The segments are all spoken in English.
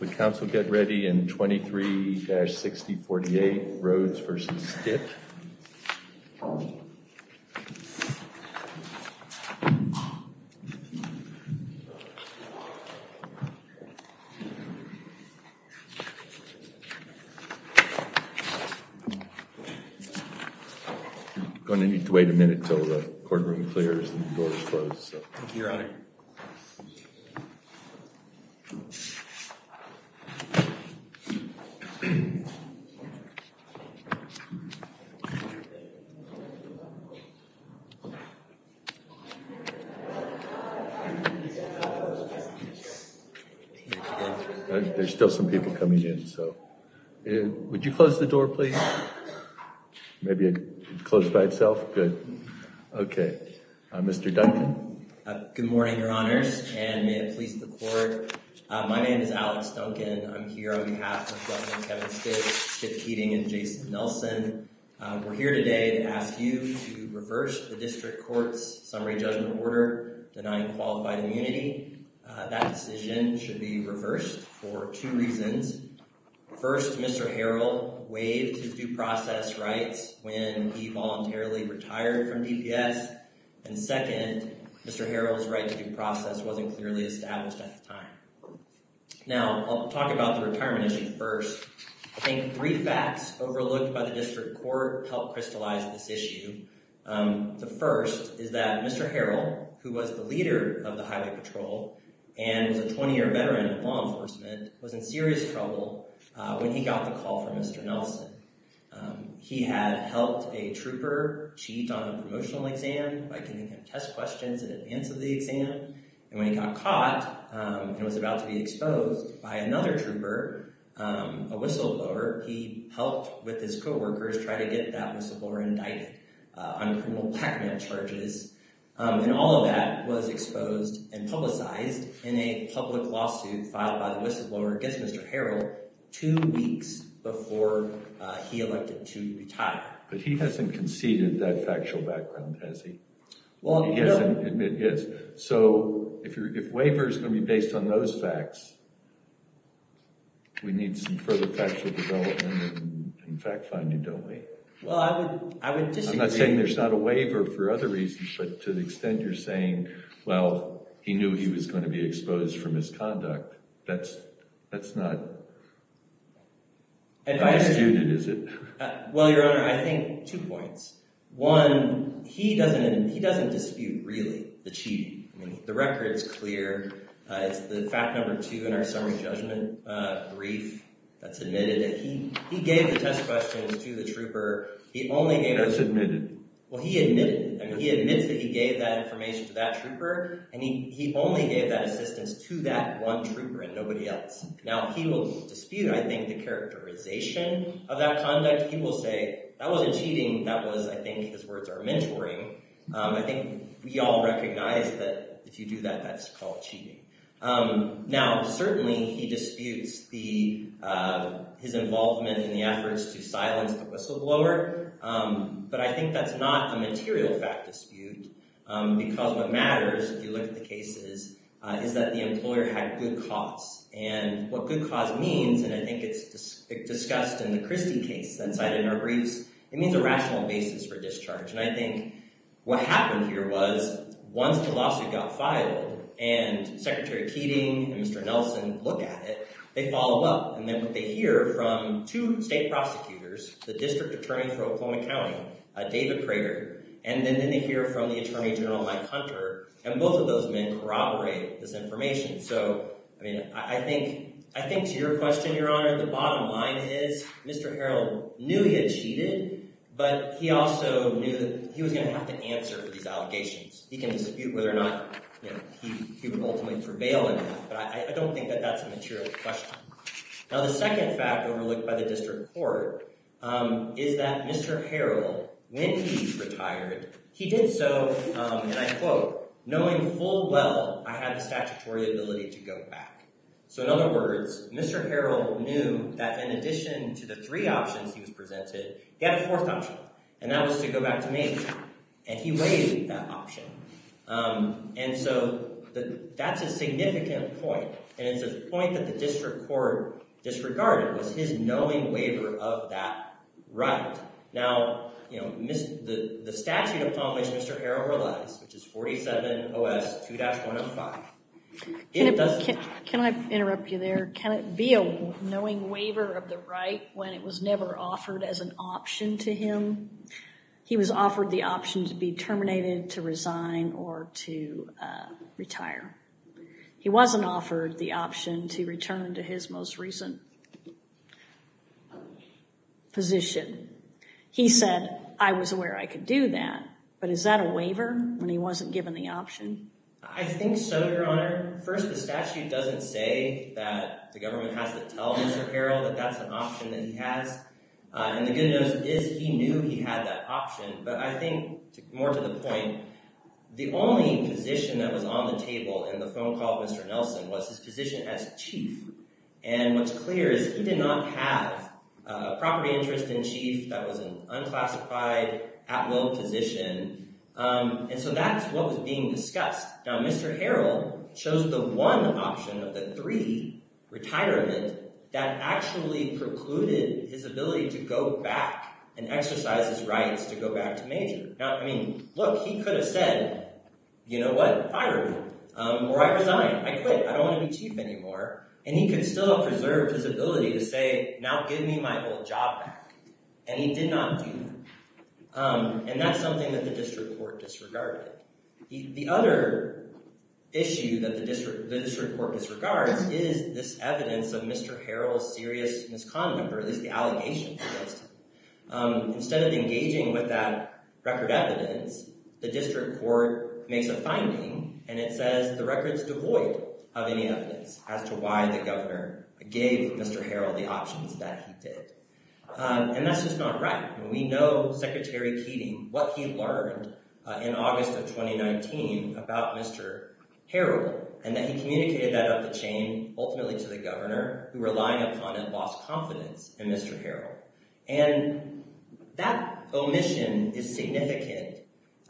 Would Council get ready in 23-6048, Rhoades v. Stitt? We're going to need to wait a minute until the courtroom clears and the door is closed. Thank you, Your Honor. There's still some people coming in, so. Would you close the door, please? Maybe it closed by itself? Good. Okay. Mr. Duncan? Good morning, Your Honors, and may it please the Court. My name is Alex Duncan. I'm here on behalf of Judge Kevin Stitt, Chip Keating, and Jason Nelson. We're here today to ask you to reverse the District Court's summary judgment order denying qualified immunity. That decision should be reversed for two reasons. First, Mr. Harrell waived his due process rights when he voluntarily retired from DPS. And second, Mr. Harrell's right to due process wasn't clearly established at the time. Now, I'll talk about the retirement issue first. I think three facts overlooked by the District Court helped crystallize this issue. The first is that Mr. Harrell, who was the leader of the Highway Patrol and was a 20-year veteran in law enforcement, was in serious trouble when he got the call from Mr. Nelson. He had helped a trooper cheat on a promotional exam by giving him test questions in advance of the exam. And when he got caught and was about to be exposed by another trooper, a whistleblower, he helped with his co-workers try to get that whistleblower indicted on criminal blackmail charges. And all of that was exposed and publicized in a public lawsuit filed by the whistleblower against Mr. Harrell two weeks before he elected to retire. But he hasn't conceded that factual background, has he? He hasn't admitted his. So if waiver is going to be based on those facts, we need some further factual development and fact-finding, don't we? Well, I would disagree. I'm not saying there's not a waiver for other reasons, but to the extent you're saying, well, he knew he was going to be exposed for misconduct, that's not—how skewed is it? Well, Your Honor, I think two points. One, he doesn't dispute really the cheating. I mean, the record is clear. It's the fact number two in our summary judgment brief that's admitted. He gave the test questions to the trooper. He only gave— That's admitted. Well, he admitted—I mean, he admits that he gave that information to that trooper, and he only gave that assistance to that one trooper and nobody else. Now, he will dispute, I think, the characterization of that conduct. He will say, that wasn't cheating. That was—I think his words are mentoring. I think we all recognize that if you do that, that's called cheating. Now, certainly he disputes his involvement in the efforts to silence the whistleblower, but I think that's not a material fact dispute because what matters, if you look at the cases, is that the employer had good cause, and what good cause means, and I think it's discussed in the Christie case that's cited in our briefs, it means a rational basis for discharge, and I think what happened here was once the lawsuit got filed and Secretary Keating and Mr. Nelson look at it, they follow up, and then what they hear from two state prosecutors, the District Attorney for Oklahoma County, David Prater, and then they hear from the Attorney General Mike Hunter, and both of those men corroborate this information. So, I mean, I think to your question, Your Honor, the bottom line is Mr. Harrell knew he had cheated, but he also knew that he was going to have to answer for these allegations. He can dispute whether or not he would ultimately prevail in it, but I don't think that that's a material question. Now, the second fact overlooked by the District Court is that Mr. Harrell, when he retired, he did so, and I quote, knowing full well I had the statutory ability to go back. So, in other words, Mr. Harrell knew that in addition to the three options he was presented, he had a fourth option, and that was to go back to Maine, and he waived that option. And so, that's a significant point, and it's a point that the District Court disregarded, was his knowing waiver of that right. Now, you know, the statute upon which Mr. Harrell relies, which is 47 OS 2-105, it does— Can I interrupt you there? Can it be a knowing waiver of the right when it was never offered as an option to him? He was offered the option to be terminated, to resign, or to retire. He wasn't offered the option to return to his most recent position. He said, I was aware I could do that, but is that a waiver when he wasn't given the option? I think so, Your Honor. First, the statute doesn't say that the government has to tell Mr. Harrell that that's an option that he has. And the good news is he knew he had that option. But I think, more to the point, the only position that was on the table in the phone call with Mr. Nelson was his position as chief, and what's clear is he did not have a property interest in chief that was an unclassified at-will position, and so that's what was being discussed. Now, Mr. Harrell chose the one option of the three, retirement, that actually precluded his ability to go back and exercise his rights to go back to major. Now, I mean, look, he could have said, you know what? Fire me. Or I resign. I quit. I don't want to be chief anymore. And he could still have preserved his ability to say, now give me my old job back. And he did not do that. And that's something that the district court disregarded. The other issue that the district court disregards is this evidence of Mr. Harrell's serious misconduct, or at least the allegations against him. Instead of engaging with that record evidence, the district court makes a finding, and it says the record's devoid of any evidence as to why the governor gave Mr. Harrell the options that he did. And that's just not right. We know Secretary Keating, what he learned in August of 2019 about Mr. Harrell, and that he communicated that up the chain ultimately to the governor, who relying upon it lost confidence in Mr. Harrell. And that omission is significant,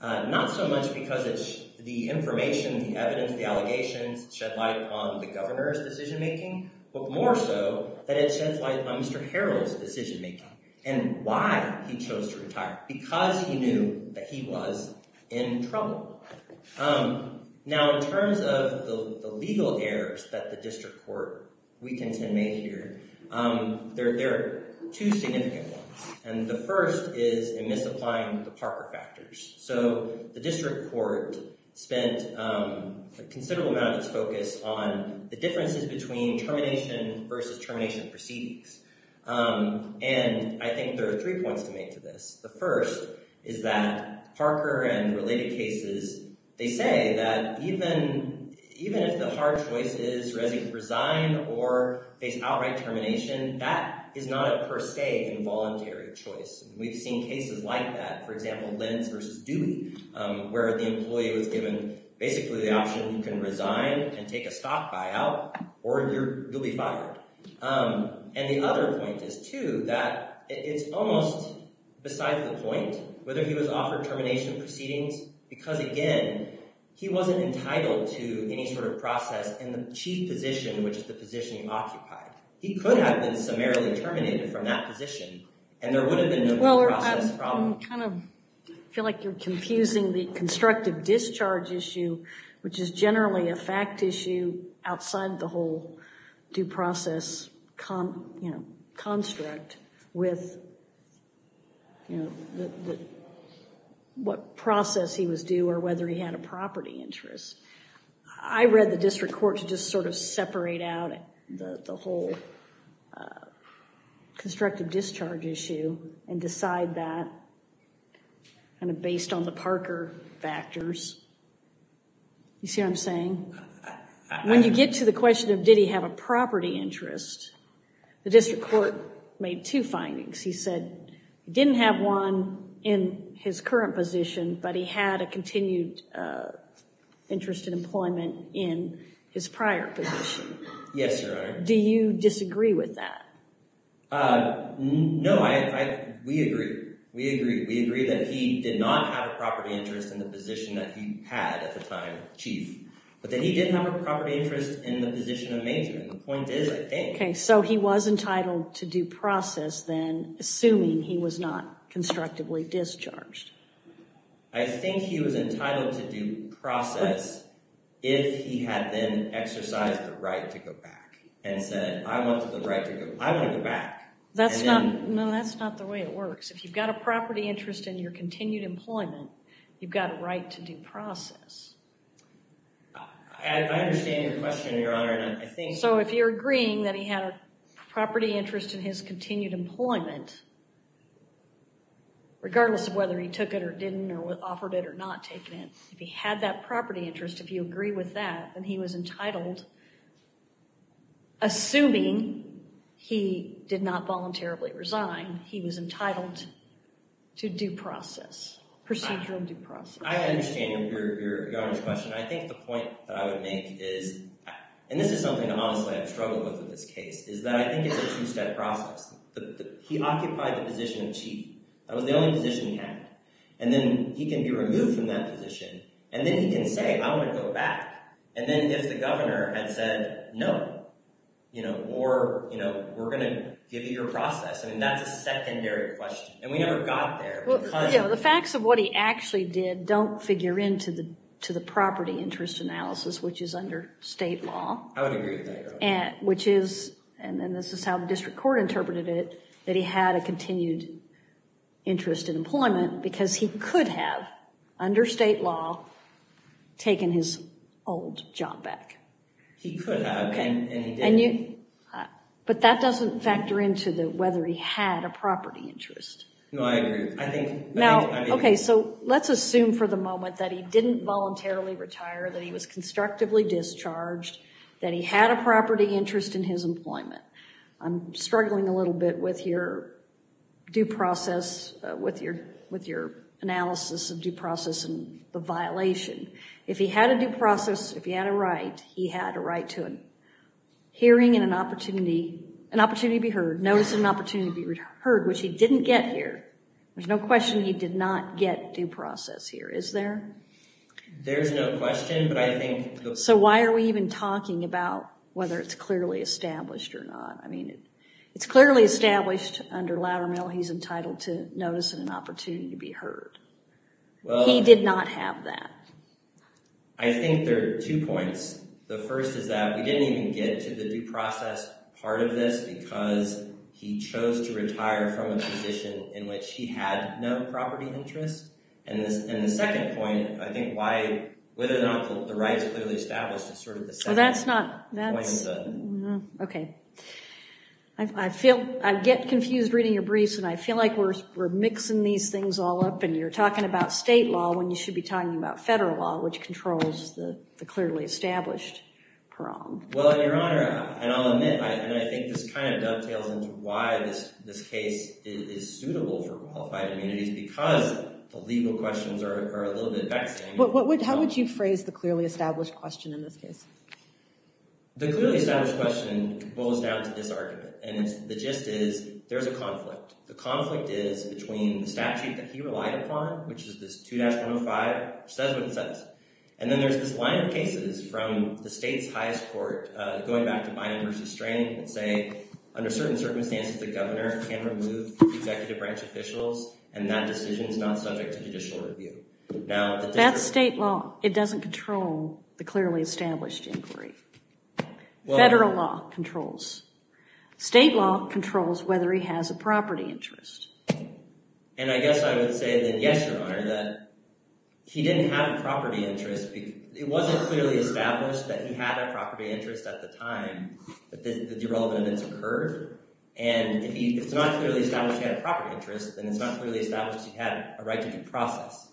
not so much because it's the information, the evidence, the allegations, that shed light on the governor's decision-making, but more so that it sheds light on Mr. Harrell's decision-making and why he chose to retire, because he knew that he was in trouble. Now, in terms of the legal errors that the district court weakens and made here, there are two significant ones. And the first is in misapplying the Parker factors. So the district court spent a considerable amount of its focus on the differences between termination versus termination proceedings. And I think there are three points to make to this. The first is that Parker and related cases, they say that even if the hard choice is resign or face outright termination, that is not a per se involuntary choice. And we've seen cases like that, for example, Lentz versus Dewey, where the employee was given basically the option you can resign and take a stock buyout or you'll be fired. And the other point is, too, that it's almost besides the point whether he was offered termination proceedings, because, again, he wasn't entitled to any sort of process in the chief position, which is the position he occupied. He could have been summarily terminated from that position, and there would have been no due process problem. I feel like you're confusing the constructive discharge issue, which is generally a fact issue outside the whole due process construct, with what process he was due or whether he had a property interest. I read the district court to just sort of separate out the whole constructive discharge issue and decide that based on the Parker factors. You see what I'm saying? When you get to the question of did he have a property interest, the district court made two findings. He said he didn't have one in his current position, but he had a continued interest in employment in his prior position. Yes, Your Honor. Do you disagree with that? No, we agree. We agree that he did not have a property interest in the position that he had at the time chief, but that he did have a property interest in the position of major, and the point is, I think. Okay, so he was entitled to due process then, assuming he was not constructively discharged. I think he was entitled to due process if he had then exercised the right to go back and said, I want to go back. No, that's not the way it works. If you've got a property interest in your continued employment, you've got a right to due process. I understand your question, Your Honor. So if you're agreeing that he had a property interest in his continued employment, regardless of whether he took it or didn't or offered it or not taken it, if he had that property interest, if you agree with that, then he was entitled, assuming he did not voluntarily resign, he was entitled to due process, procedural due process. I understand Your Honor's question. I think the point that I would make is, and this is something that honestly I've struggled with in this case, is that I think it's a two-step process. He occupied the position of chief. That was the only position he had. And then he can be removed from that position, and then he can say, I want to go back. And then if the governor had said, no, or we're going to give you your process, I mean, that's a secondary question, and we never got there. The facts of what he actually did don't figure into the property interest analysis, which is under state law. I would agree with that, Your Honor. Which is, and then this is how the district court interpreted it, that he had a continued interest in employment because he could have, under state law, taken his old job back. He could have, and he didn't. But that doesn't factor into whether he had a property interest. No, I agree. Now, okay, so let's assume for the moment that he didn't voluntarily retire, that he was constructively discharged, that he had a property interest in his employment. I'm struggling a little bit with your due process, with your analysis of due process and the violation. If he had a due process, if he had a right, he had a right to a hearing and an opportunity, notice of an opportunity to be heard, which he didn't get here. There's no question he did not get due process here, is there? There's no question, but I think the- So why are we even talking about whether it's clearly established or not? I mean, it's clearly established under Loudermill he's entitled to notice and an opportunity to be heard. He did not have that. I think there are two points. The first is that we didn't even get to the due process part of this because he chose to retire from a position in which he had no property interest. And the second point, I think why, whether or not the right is clearly established is sort of the second point of the- Oh, that's not- Okay. I get confused reading your briefs, and I feel like we're mixing these things all up, and you're talking about state law when you should be talking about federal law, which controls the clearly established prong. Well, Your Honor, and I'll admit, and I think this kind of dovetails into why this case is suitable for qualified immunities, because the legal questions are a little bit vexing. How would you phrase the clearly established question in this case? The clearly established question boils down to this argument, and the gist is there's a conflict. The conflict is between the statute that he relied upon, which is this 2-105, which says what it says, and then there's this line of cases from the state's highest court going back to Bynum v. Strain that say, under certain circumstances, the governor can remove executive branch officials, and that decision is not subject to judicial review. Now- That's state law. It doesn't control the clearly established inquiry. Federal law controls. State law controls whether he has a property interest. And I guess I would say that, yes, Your Honor, that he didn't have a property interest. It wasn't clearly established that he had a property interest at the time that the irrelevant events occurred, and if it's not clearly established he had a property interest, then it's not clearly established he had a right to due process,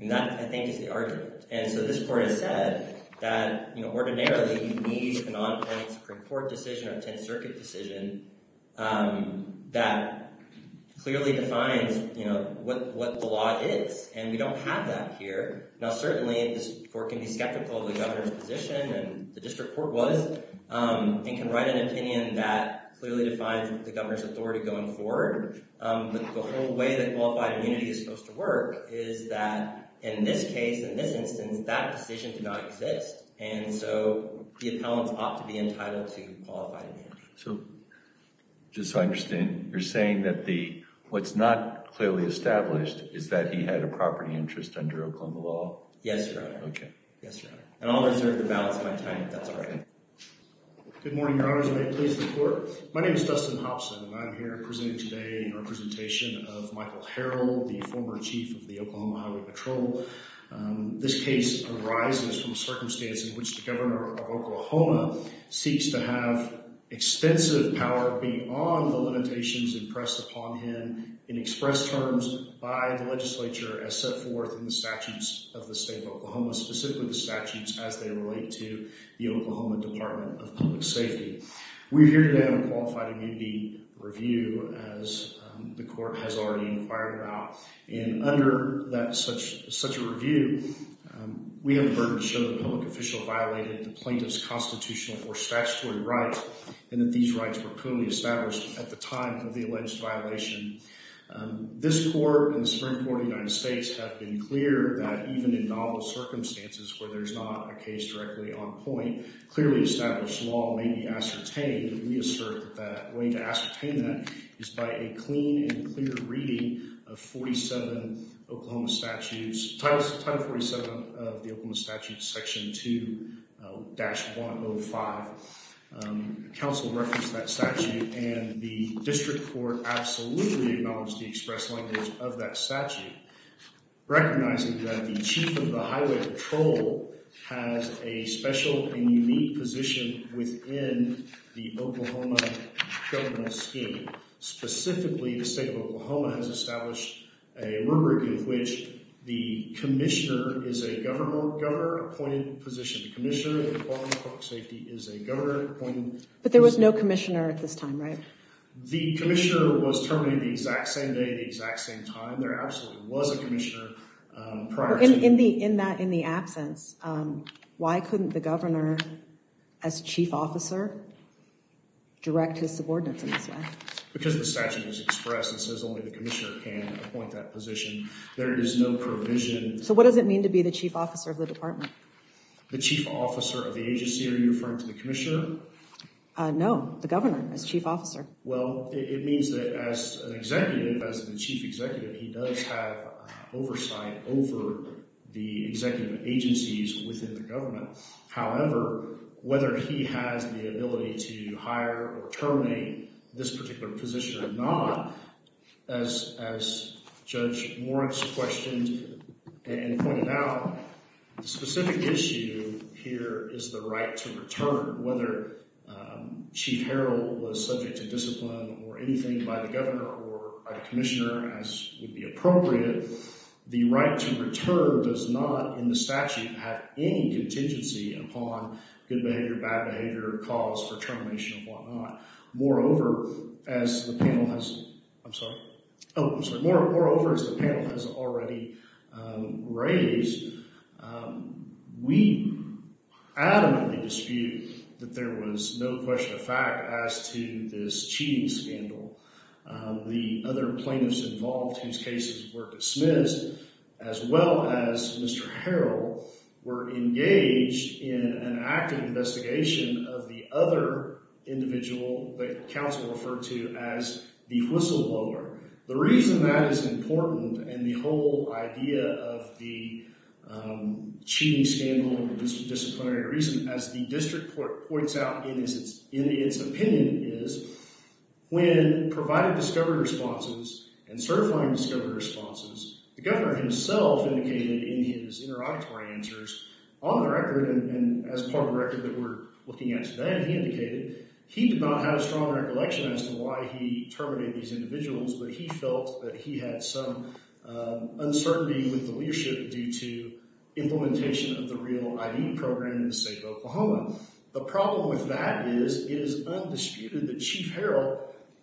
and that, I think, is the argument. And so this court has said that, you know, ordinarily you need a non-tenant Supreme Court decision or a Tenth Circuit decision that clearly defines, you know, what the law is, and we don't have that here. Now, certainly this court can be skeptical of the governor's position, and the district court was, and can write an opinion that clearly defines the governor's authority going forward, but the whole way that qualified immunity is supposed to work is that in this case, in this instance, that decision did not exist, and so the appellants ought to be entitled to qualified immunity. So just so I understand, you're saying that what's not clearly established is that he had a property interest under Oklahoma law? Yes, Your Honor. Okay. Yes, Your Honor. And I'll reserve the balance of my time if that's all right. Good morning, Your Honors. May it please the Court? My name is Dustin Hobson, and I'm here presenting today in representation of Michael Harrell, the former chief of the Oklahoma Highway Patrol. This case arises from a circumstance in which the governor of Oklahoma seeks to have extensive power beyond the limitations impressed upon him in express terms by the legislature as set forth in the statutes of the state of Oklahoma, specifically the statutes as they relate to the Oklahoma Department of Public Safety. We're here today on a qualified immunity review, as the Court has already inquired about, and under such a review, we have the burden to show that a public official violated the plaintiff's constitutional or statutory rights and that these rights were clearly established at the time of the alleged violation. This Court and the Supreme Court of the United States have been clear that even in novel circumstances where there's not a case directly on point, clearly established law may be ascertained. We assert that the way to ascertain that is by a clean and clear reading of 47 Oklahoma statutes, Title 47 of the Oklahoma Statutes, Section 2-105. Counsel referenced that statute, and the district court absolutely acknowledged the express language of that statute, recognizing that the chief of the highway patrol has a special and unique position within the Oklahoma government scheme. Specifically, the state of Oklahoma has established a rubric in which the commissioner is a governor-appointed position. The commissioner of the Department of Public Safety is a governor-appointed position. But there was no commissioner at this time, right? The commissioner was terminated the exact same day, the exact same time. There absolutely was a commissioner prior to that. In the absence, why couldn't the governor, as chief officer, direct his subordinates in this way? Because the statute is expressed and says only the commissioner can appoint that position. There is no provision. So what does it mean to be the chief officer of the department? No, the governor as chief officer. Well, it means that as an executive, as the chief executive, he does have oversight over the executive agencies within the government. However, whether he has the ability to hire or terminate this particular position or not, as Judge Moritz questioned and pointed out, the specific issue here is the right to return. Whether Chief Harrell was subject to discipline or anything by the governor or by the commissioner, as would be appropriate, the right to return does not, in the statute, have any contingency upon good behavior, bad behavior, calls for termination and whatnot. Moreover, as the panel has already raised, we adamantly dispute that there was no question of fact as to this cheating scandal. The other plaintiffs involved whose cases were dismissed, as well as Mr. Harrell, were engaged in an active investigation of the other individual that counsel referred to as the whistleblower. The reason that is important and the whole idea of the cheating scandal and disciplinary reason, as the district points out in its opinion, is when providing discovery responses and certifying discovery responses, the governor himself indicated in his interrogatory answers on the record and as part of the record that we're looking at today, he indicated he did not have a strong recollection as to why he terminated these individuals, but he felt that he had some uncertainty with the leadership due to implementation of the REAL ID program in the state of Oklahoma. The problem with that is it is undisputed that Chief Harrell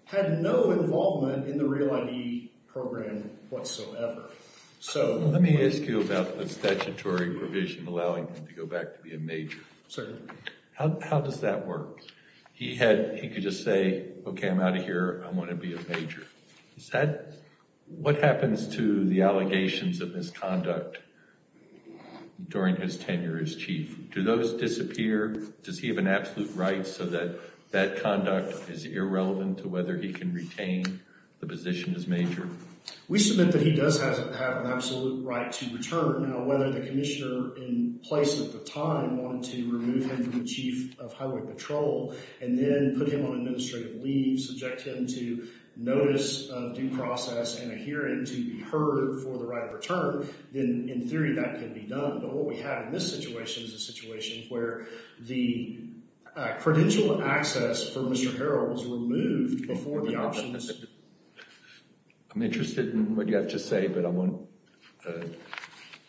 had no involvement in the REAL ID program whatsoever. Let me ask you about the statutory provision allowing him to go back to be a major. Certainly. How does that work? He could just say, okay, I'm out of here, I want to be a major. What happens to the allegations of misconduct during his tenure as chief? Do those disappear? Does he have an absolute right so that that conduct is irrelevant to whether he can retain the position as major? We submit that he does have an absolute right to return. Now, whether the commissioner in place at the time wanted to remove him from the chief of highway patrol and then put him on administrative leave, subject him to notice of due process and a hearing to be heard for the right of return, then in theory that can be done. But what we have in this situation is a situation where the credential access for Mr. Harrell was removed before the options. I'm interested in what you have to say, but I want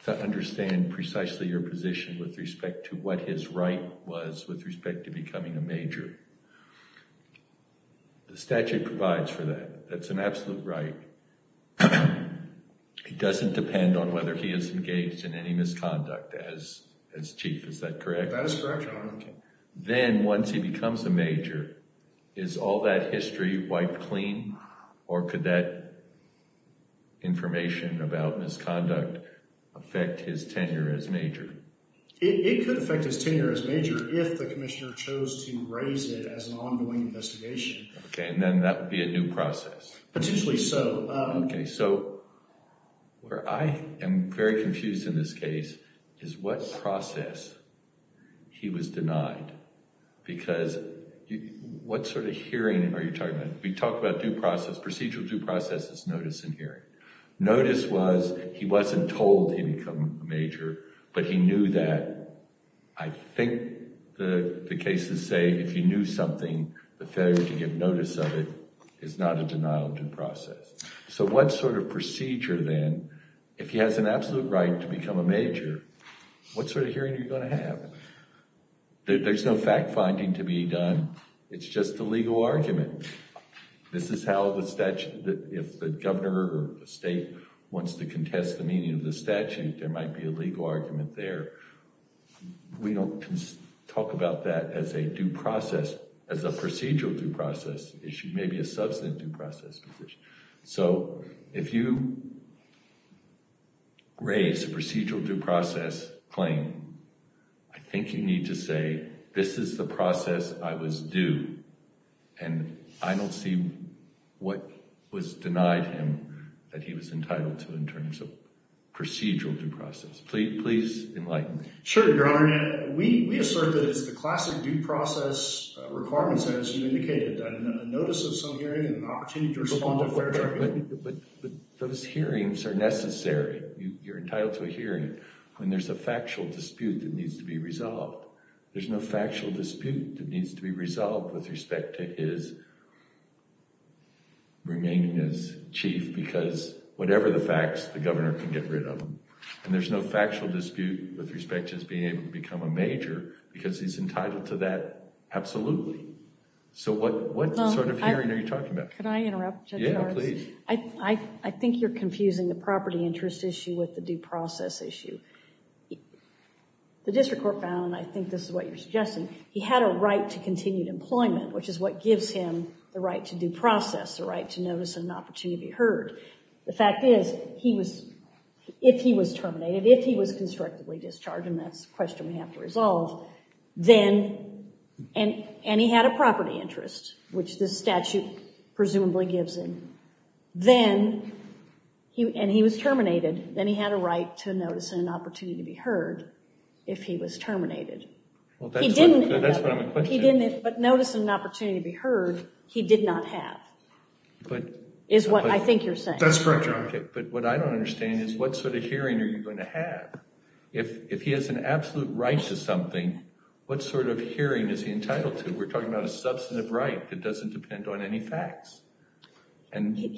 to understand precisely your position with respect to what his right was with respect to becoming a major. The statute provides for that. That's an absolute right. It doesn't depend on whether he is engaged in any misconduct as chief. Is that correct? That is correct, Your Honor. Then once he becomes a major, is all that history wiped clean or could that information about misconduct affect his tenure as major? It could affect his tenure as major if the commissioner chose to raise it as an ongoing investigation. Okay, and then that would be a new process. Potentially so. Okay, so where I am very confused in this case is what process he was denied because what sort of hearing are you talking about? We talked about due process. Procedural due process is notice and hearing. Notice was he wasn't told he would become a major, but he knew that. I think the cases say if you knew something, the failure to give notice of it is not a denial due process. So what sort of procedure then, if he has an absolute right to become a major, what sort of hearing are you going to have? There's no fact finding to be done. It's just a legal argument. This is how the statute, if the governor or the state wants to contest the meaning of the statute, there might be a legal argument there. We don't talk about that as a due process, as a procedural due process issue, maybe a substantive due process issue. So if you raise a procedural due process claim, I think you need to say this is the process I was due, and I don't see what was denied him that he was entitled to in terms of procedural due process. Please enlighten me. Sure, Your Honor. Your Honor, we assert that it's the classic due process requirements as you indicated. A notice of some hearing and an opportunity to respond to a fair judgment. But those hearings are necessary. You're entitled to a hearing when there's a factual dispute that needs to be resolved. There's no factual dispute that needs to be resolved with respect to his remaining as chief because whatever the facts, the governor can get rid of them. And there's no factual dispute with respect to his being able to become a major because he's entitled to that. Absolutely. So what sort of hearing are you talking about? Can I interrupt? Yeah, please. I think you're confusing the property interest issue with the due process issue. The district court found, and I think this is what you're suggesting, he had a right to continued employment, which is what gives him the right to due process, the right to notice and an opportunity to be heard. The fact is, if he was terminated, if he was constructively discharged, and that's a question we have to resolve, and he had a property interest, which this statute presumably gives him, and he was terminated, then he had a right to notice and an opportunity to be heard if he was terminated. That's what I'm questioning. But notice and opportunity to be heard, he did not have, is what I think you're saying. That's correct, Your Honor. But what I don't understand is what sort of hearing are you going to have? If he has an absolute right to something, what sort of hearing is he entitled to? We're talking about a substantive right that doesn't depend on any facts.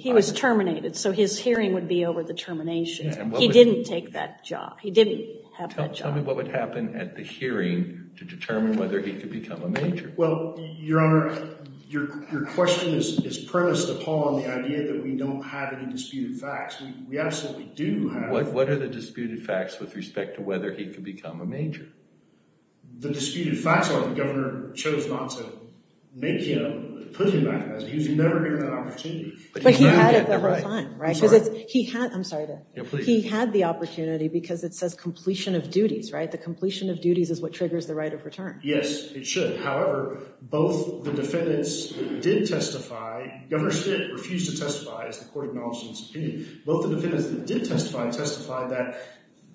He was terminated, so his hearing would be over the termination. He didn't have that job. Tell me what would happen at the hearing to determine whether he could become a major. Well, Your Honor, your question is premised upon the idea that we don't have any disputed facts. We absolutely do have. What are the disputed facts with respect to whether he could become a major? The disputed facts are the governor chose not to make him, put him back as a, he was never given that opportunity. But he had it the whole time, right? I'm sorry to interrupt. He had the opportunity because it says completion of duties, right? The completion of duties is what triggers the right of return. Yes, it should. However, both the defendants did testify. Governor Smith refused to testify as the court acknowledged in his opinion. Both the defendants that did testify testified that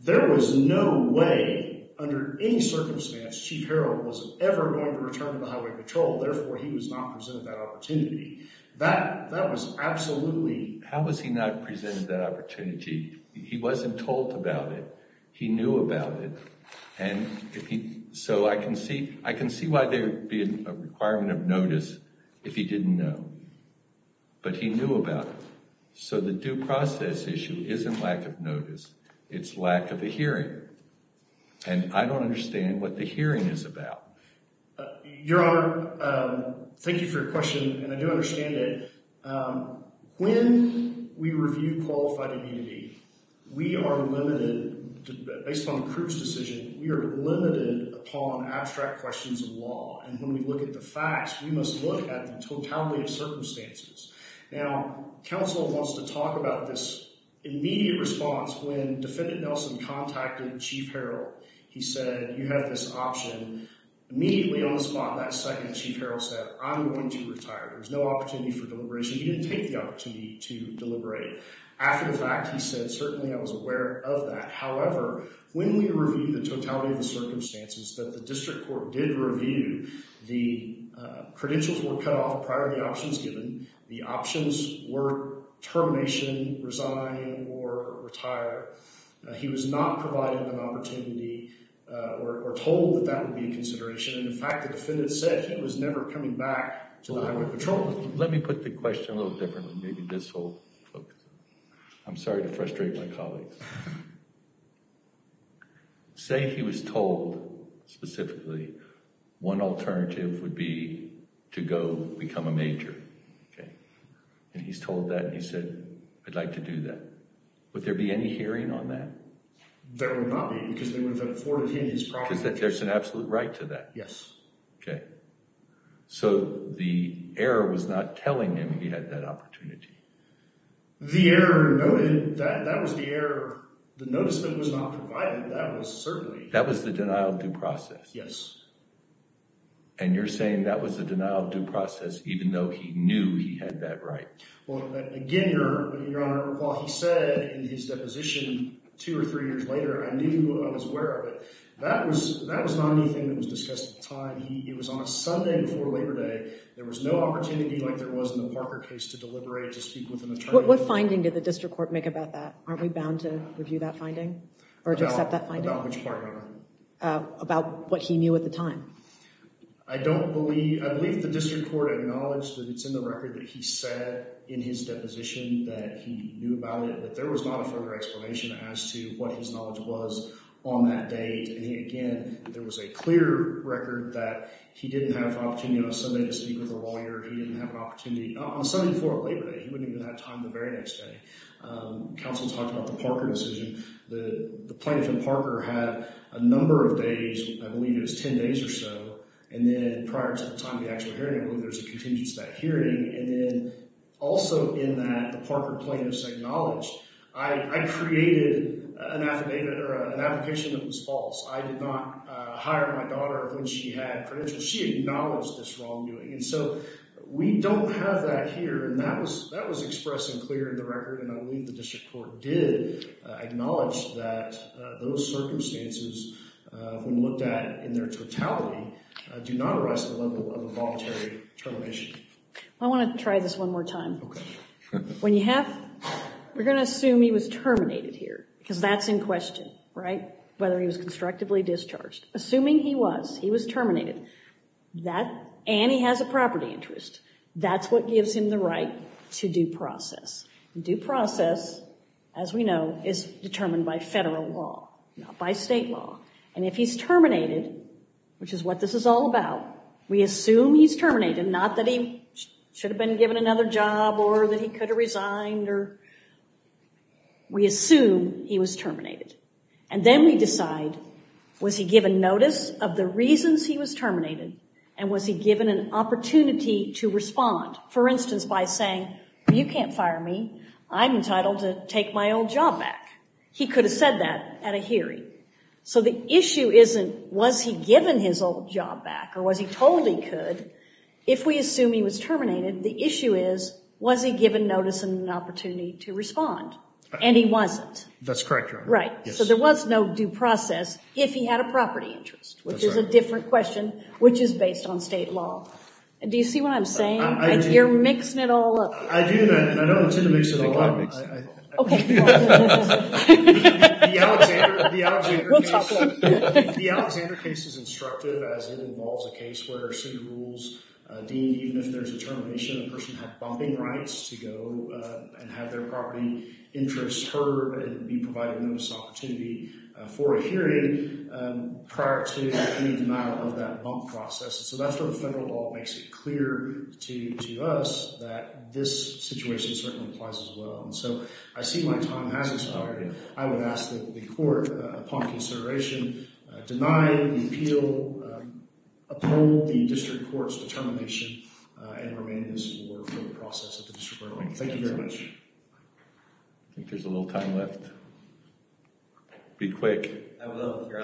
there was no way, under any circumstance, Chief Harrell was ever going to return to the highway patrol. Therefore, he was not presented that opportunity. That was absolutely… How was he not presented that opportunity? He wasn't told about it. He knew about it. And so I can see why there would be a requirement of notice if he didn't know. But he knew about it. So the due process issue isn't lack of notice. It's lack of a hearing. And I don't understand what the hearing is about. Your Honor, thank you for your question, and I do understand it. When we review qualified immunity, we are limited. Based on the crew's decision, we are limited upon abstract questions of law. And when we look at the facts, we must look at the totality of circumstances. Now, counsel wants to talk about this immediate response when Defendant Nelson contacted Chief Harrell. He said, you have this option. Immediately on the spot, that second, Chief Harrell said, I'm going to retire. There's no opportunity for deliberation. He didn't take the opportunity to deliberate. After the fact, he said, certainly I was aware of that. However, when we reviewed the totality of the circumstances that the district court did review, the credentials were cut off prior to the options given. The options were termination, resign, or retire. He was not provided an opportunity or told that that would be a consideration. And, in fact, the defendant said he was never coming back to the Highway Patrol. Let me put the question a little differently. Maybe this will focus it. I'm sorry to frustrate my colleagues. Say he was told specifically one alternative would be to go become a major. And he's told that, and he said, I'd like to do that. Would there be any hearing on that? There would not be because they would have afforded him his property. Because there's an absolute right to that? Yes. Okay. So the error was not telling him he had that opportunity? The error noted that that was the error. The notice that was not provided, that was certainly. That was the denial of due process? Yes. And you're saying that was the denial of due process even though he knew he had that right? Well, again, Your Honor, while he said in his deposition two or three years later, I knew I was aware of it. That was not anything that was discussed at the time. It was on a Sunday before Labor Day. There was no opportunity like there was in the Parker case to deliberate, to speak with an attorney. What finding did the district court make about that? Aren't we bound to review that finding or to accept that finding? About which part, Your Honor? About what he knew at the time. I don't believe – I believe the district court acknowledged that it's in the record that he said in his deposition that he knew about it, that there was not a further explanation as to what his knowledge was on that date. And, again, there was a clear record that he didn't have an opportunity on a Sunday to speak with a lawyer. He didn't have an opportunity on a Sunday before Labor Day. He wouldn't even have time the very next day. Counsel talked about the Parker decision. The plaintiff and Parker had a number of days. I believe it was 10 days or so. And then prior to the time of the actual hearing, I believe there was a contingency of that hearing. And then also in that, the Parker plaintiff's acknowledged, I created an affidavit or an application that was false. I did not hire my daughter when she had credentials. She acknowledged this wrongdoing. And so we don't have that here. And that was expressed and clear in the record. And I believe the district court did acknowledge that those circumstances, when looked at in their totality, do not arise at the level of involuntary termination. I want to try this one more time. Okay. When you have, we're going to assume he was terminated here because that's in question, right, whether he was constructively discharged. Assuming he was, he was terminated, and he has a property interest, that's what gives him the right to due process. Due process, as we know, is determined by federal law, not by state law. And if he's terminated, which is what this is all about, we assume he's terminated, not that he should have been given another job or that he could have resigned. We assume he was terminated. And then we decide, was he given notice of the reasons he was terminated and was he given an opportunity to respond? For instance, by saying, you can't fire me. I'm entitled to take my old job back. He could have said that at a hearing. So the issue isn't, was he given his old job back or was he told he could? If we assume he was terminated, the issue is, was he given notice and an opportunity to respond? And he wasn't. That's correct, Your Honor. Right. So there was no due process if he had a property interest, which is a different question, which is based on state law. Do you see what I'm saying? I do. You're mixing it all up. I do, and I don't intend to mix it all up. Okay. We'll talk about it. The Alexander case is instructive as it involves a case where city rules deem even if there's a termination, a person has bumping rights to go and have their property interest heard and be provided with notice and opportunity for a hearing prior to any demand of that bump process. So that's where the federal law makes it clear to us that this situation certainly applies as well. And so I see my time has expired, and I would ask that the court, upon consideration, deny the appeal, uphold the district court's determination, and remain in this order for the process at the district court level. Thank you very much. I think there's a little time left. Be quick. I will, Your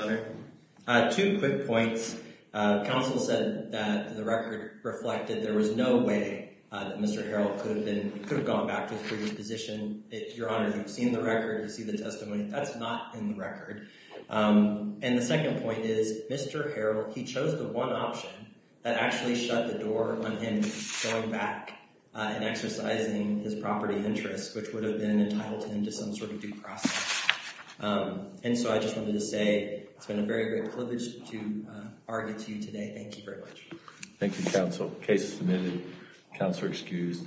Honor. Two quick points. Counsel said that the record reflected there was no way that Mr. Harrell could have gone back to his previous position. Your Honor, you've seen the record, you've seen the testimony. That's not in the record. And the second point is Mr. Harrell, he chose the one option that actually shut the door on him going back and exercising his property interest, which would have been entitled him to some sort of due process. And so I just wanted to say it's been a very great privilege to argue to you today. Thank you very much. Thank you, counsel. Case submitted. Counselor excused.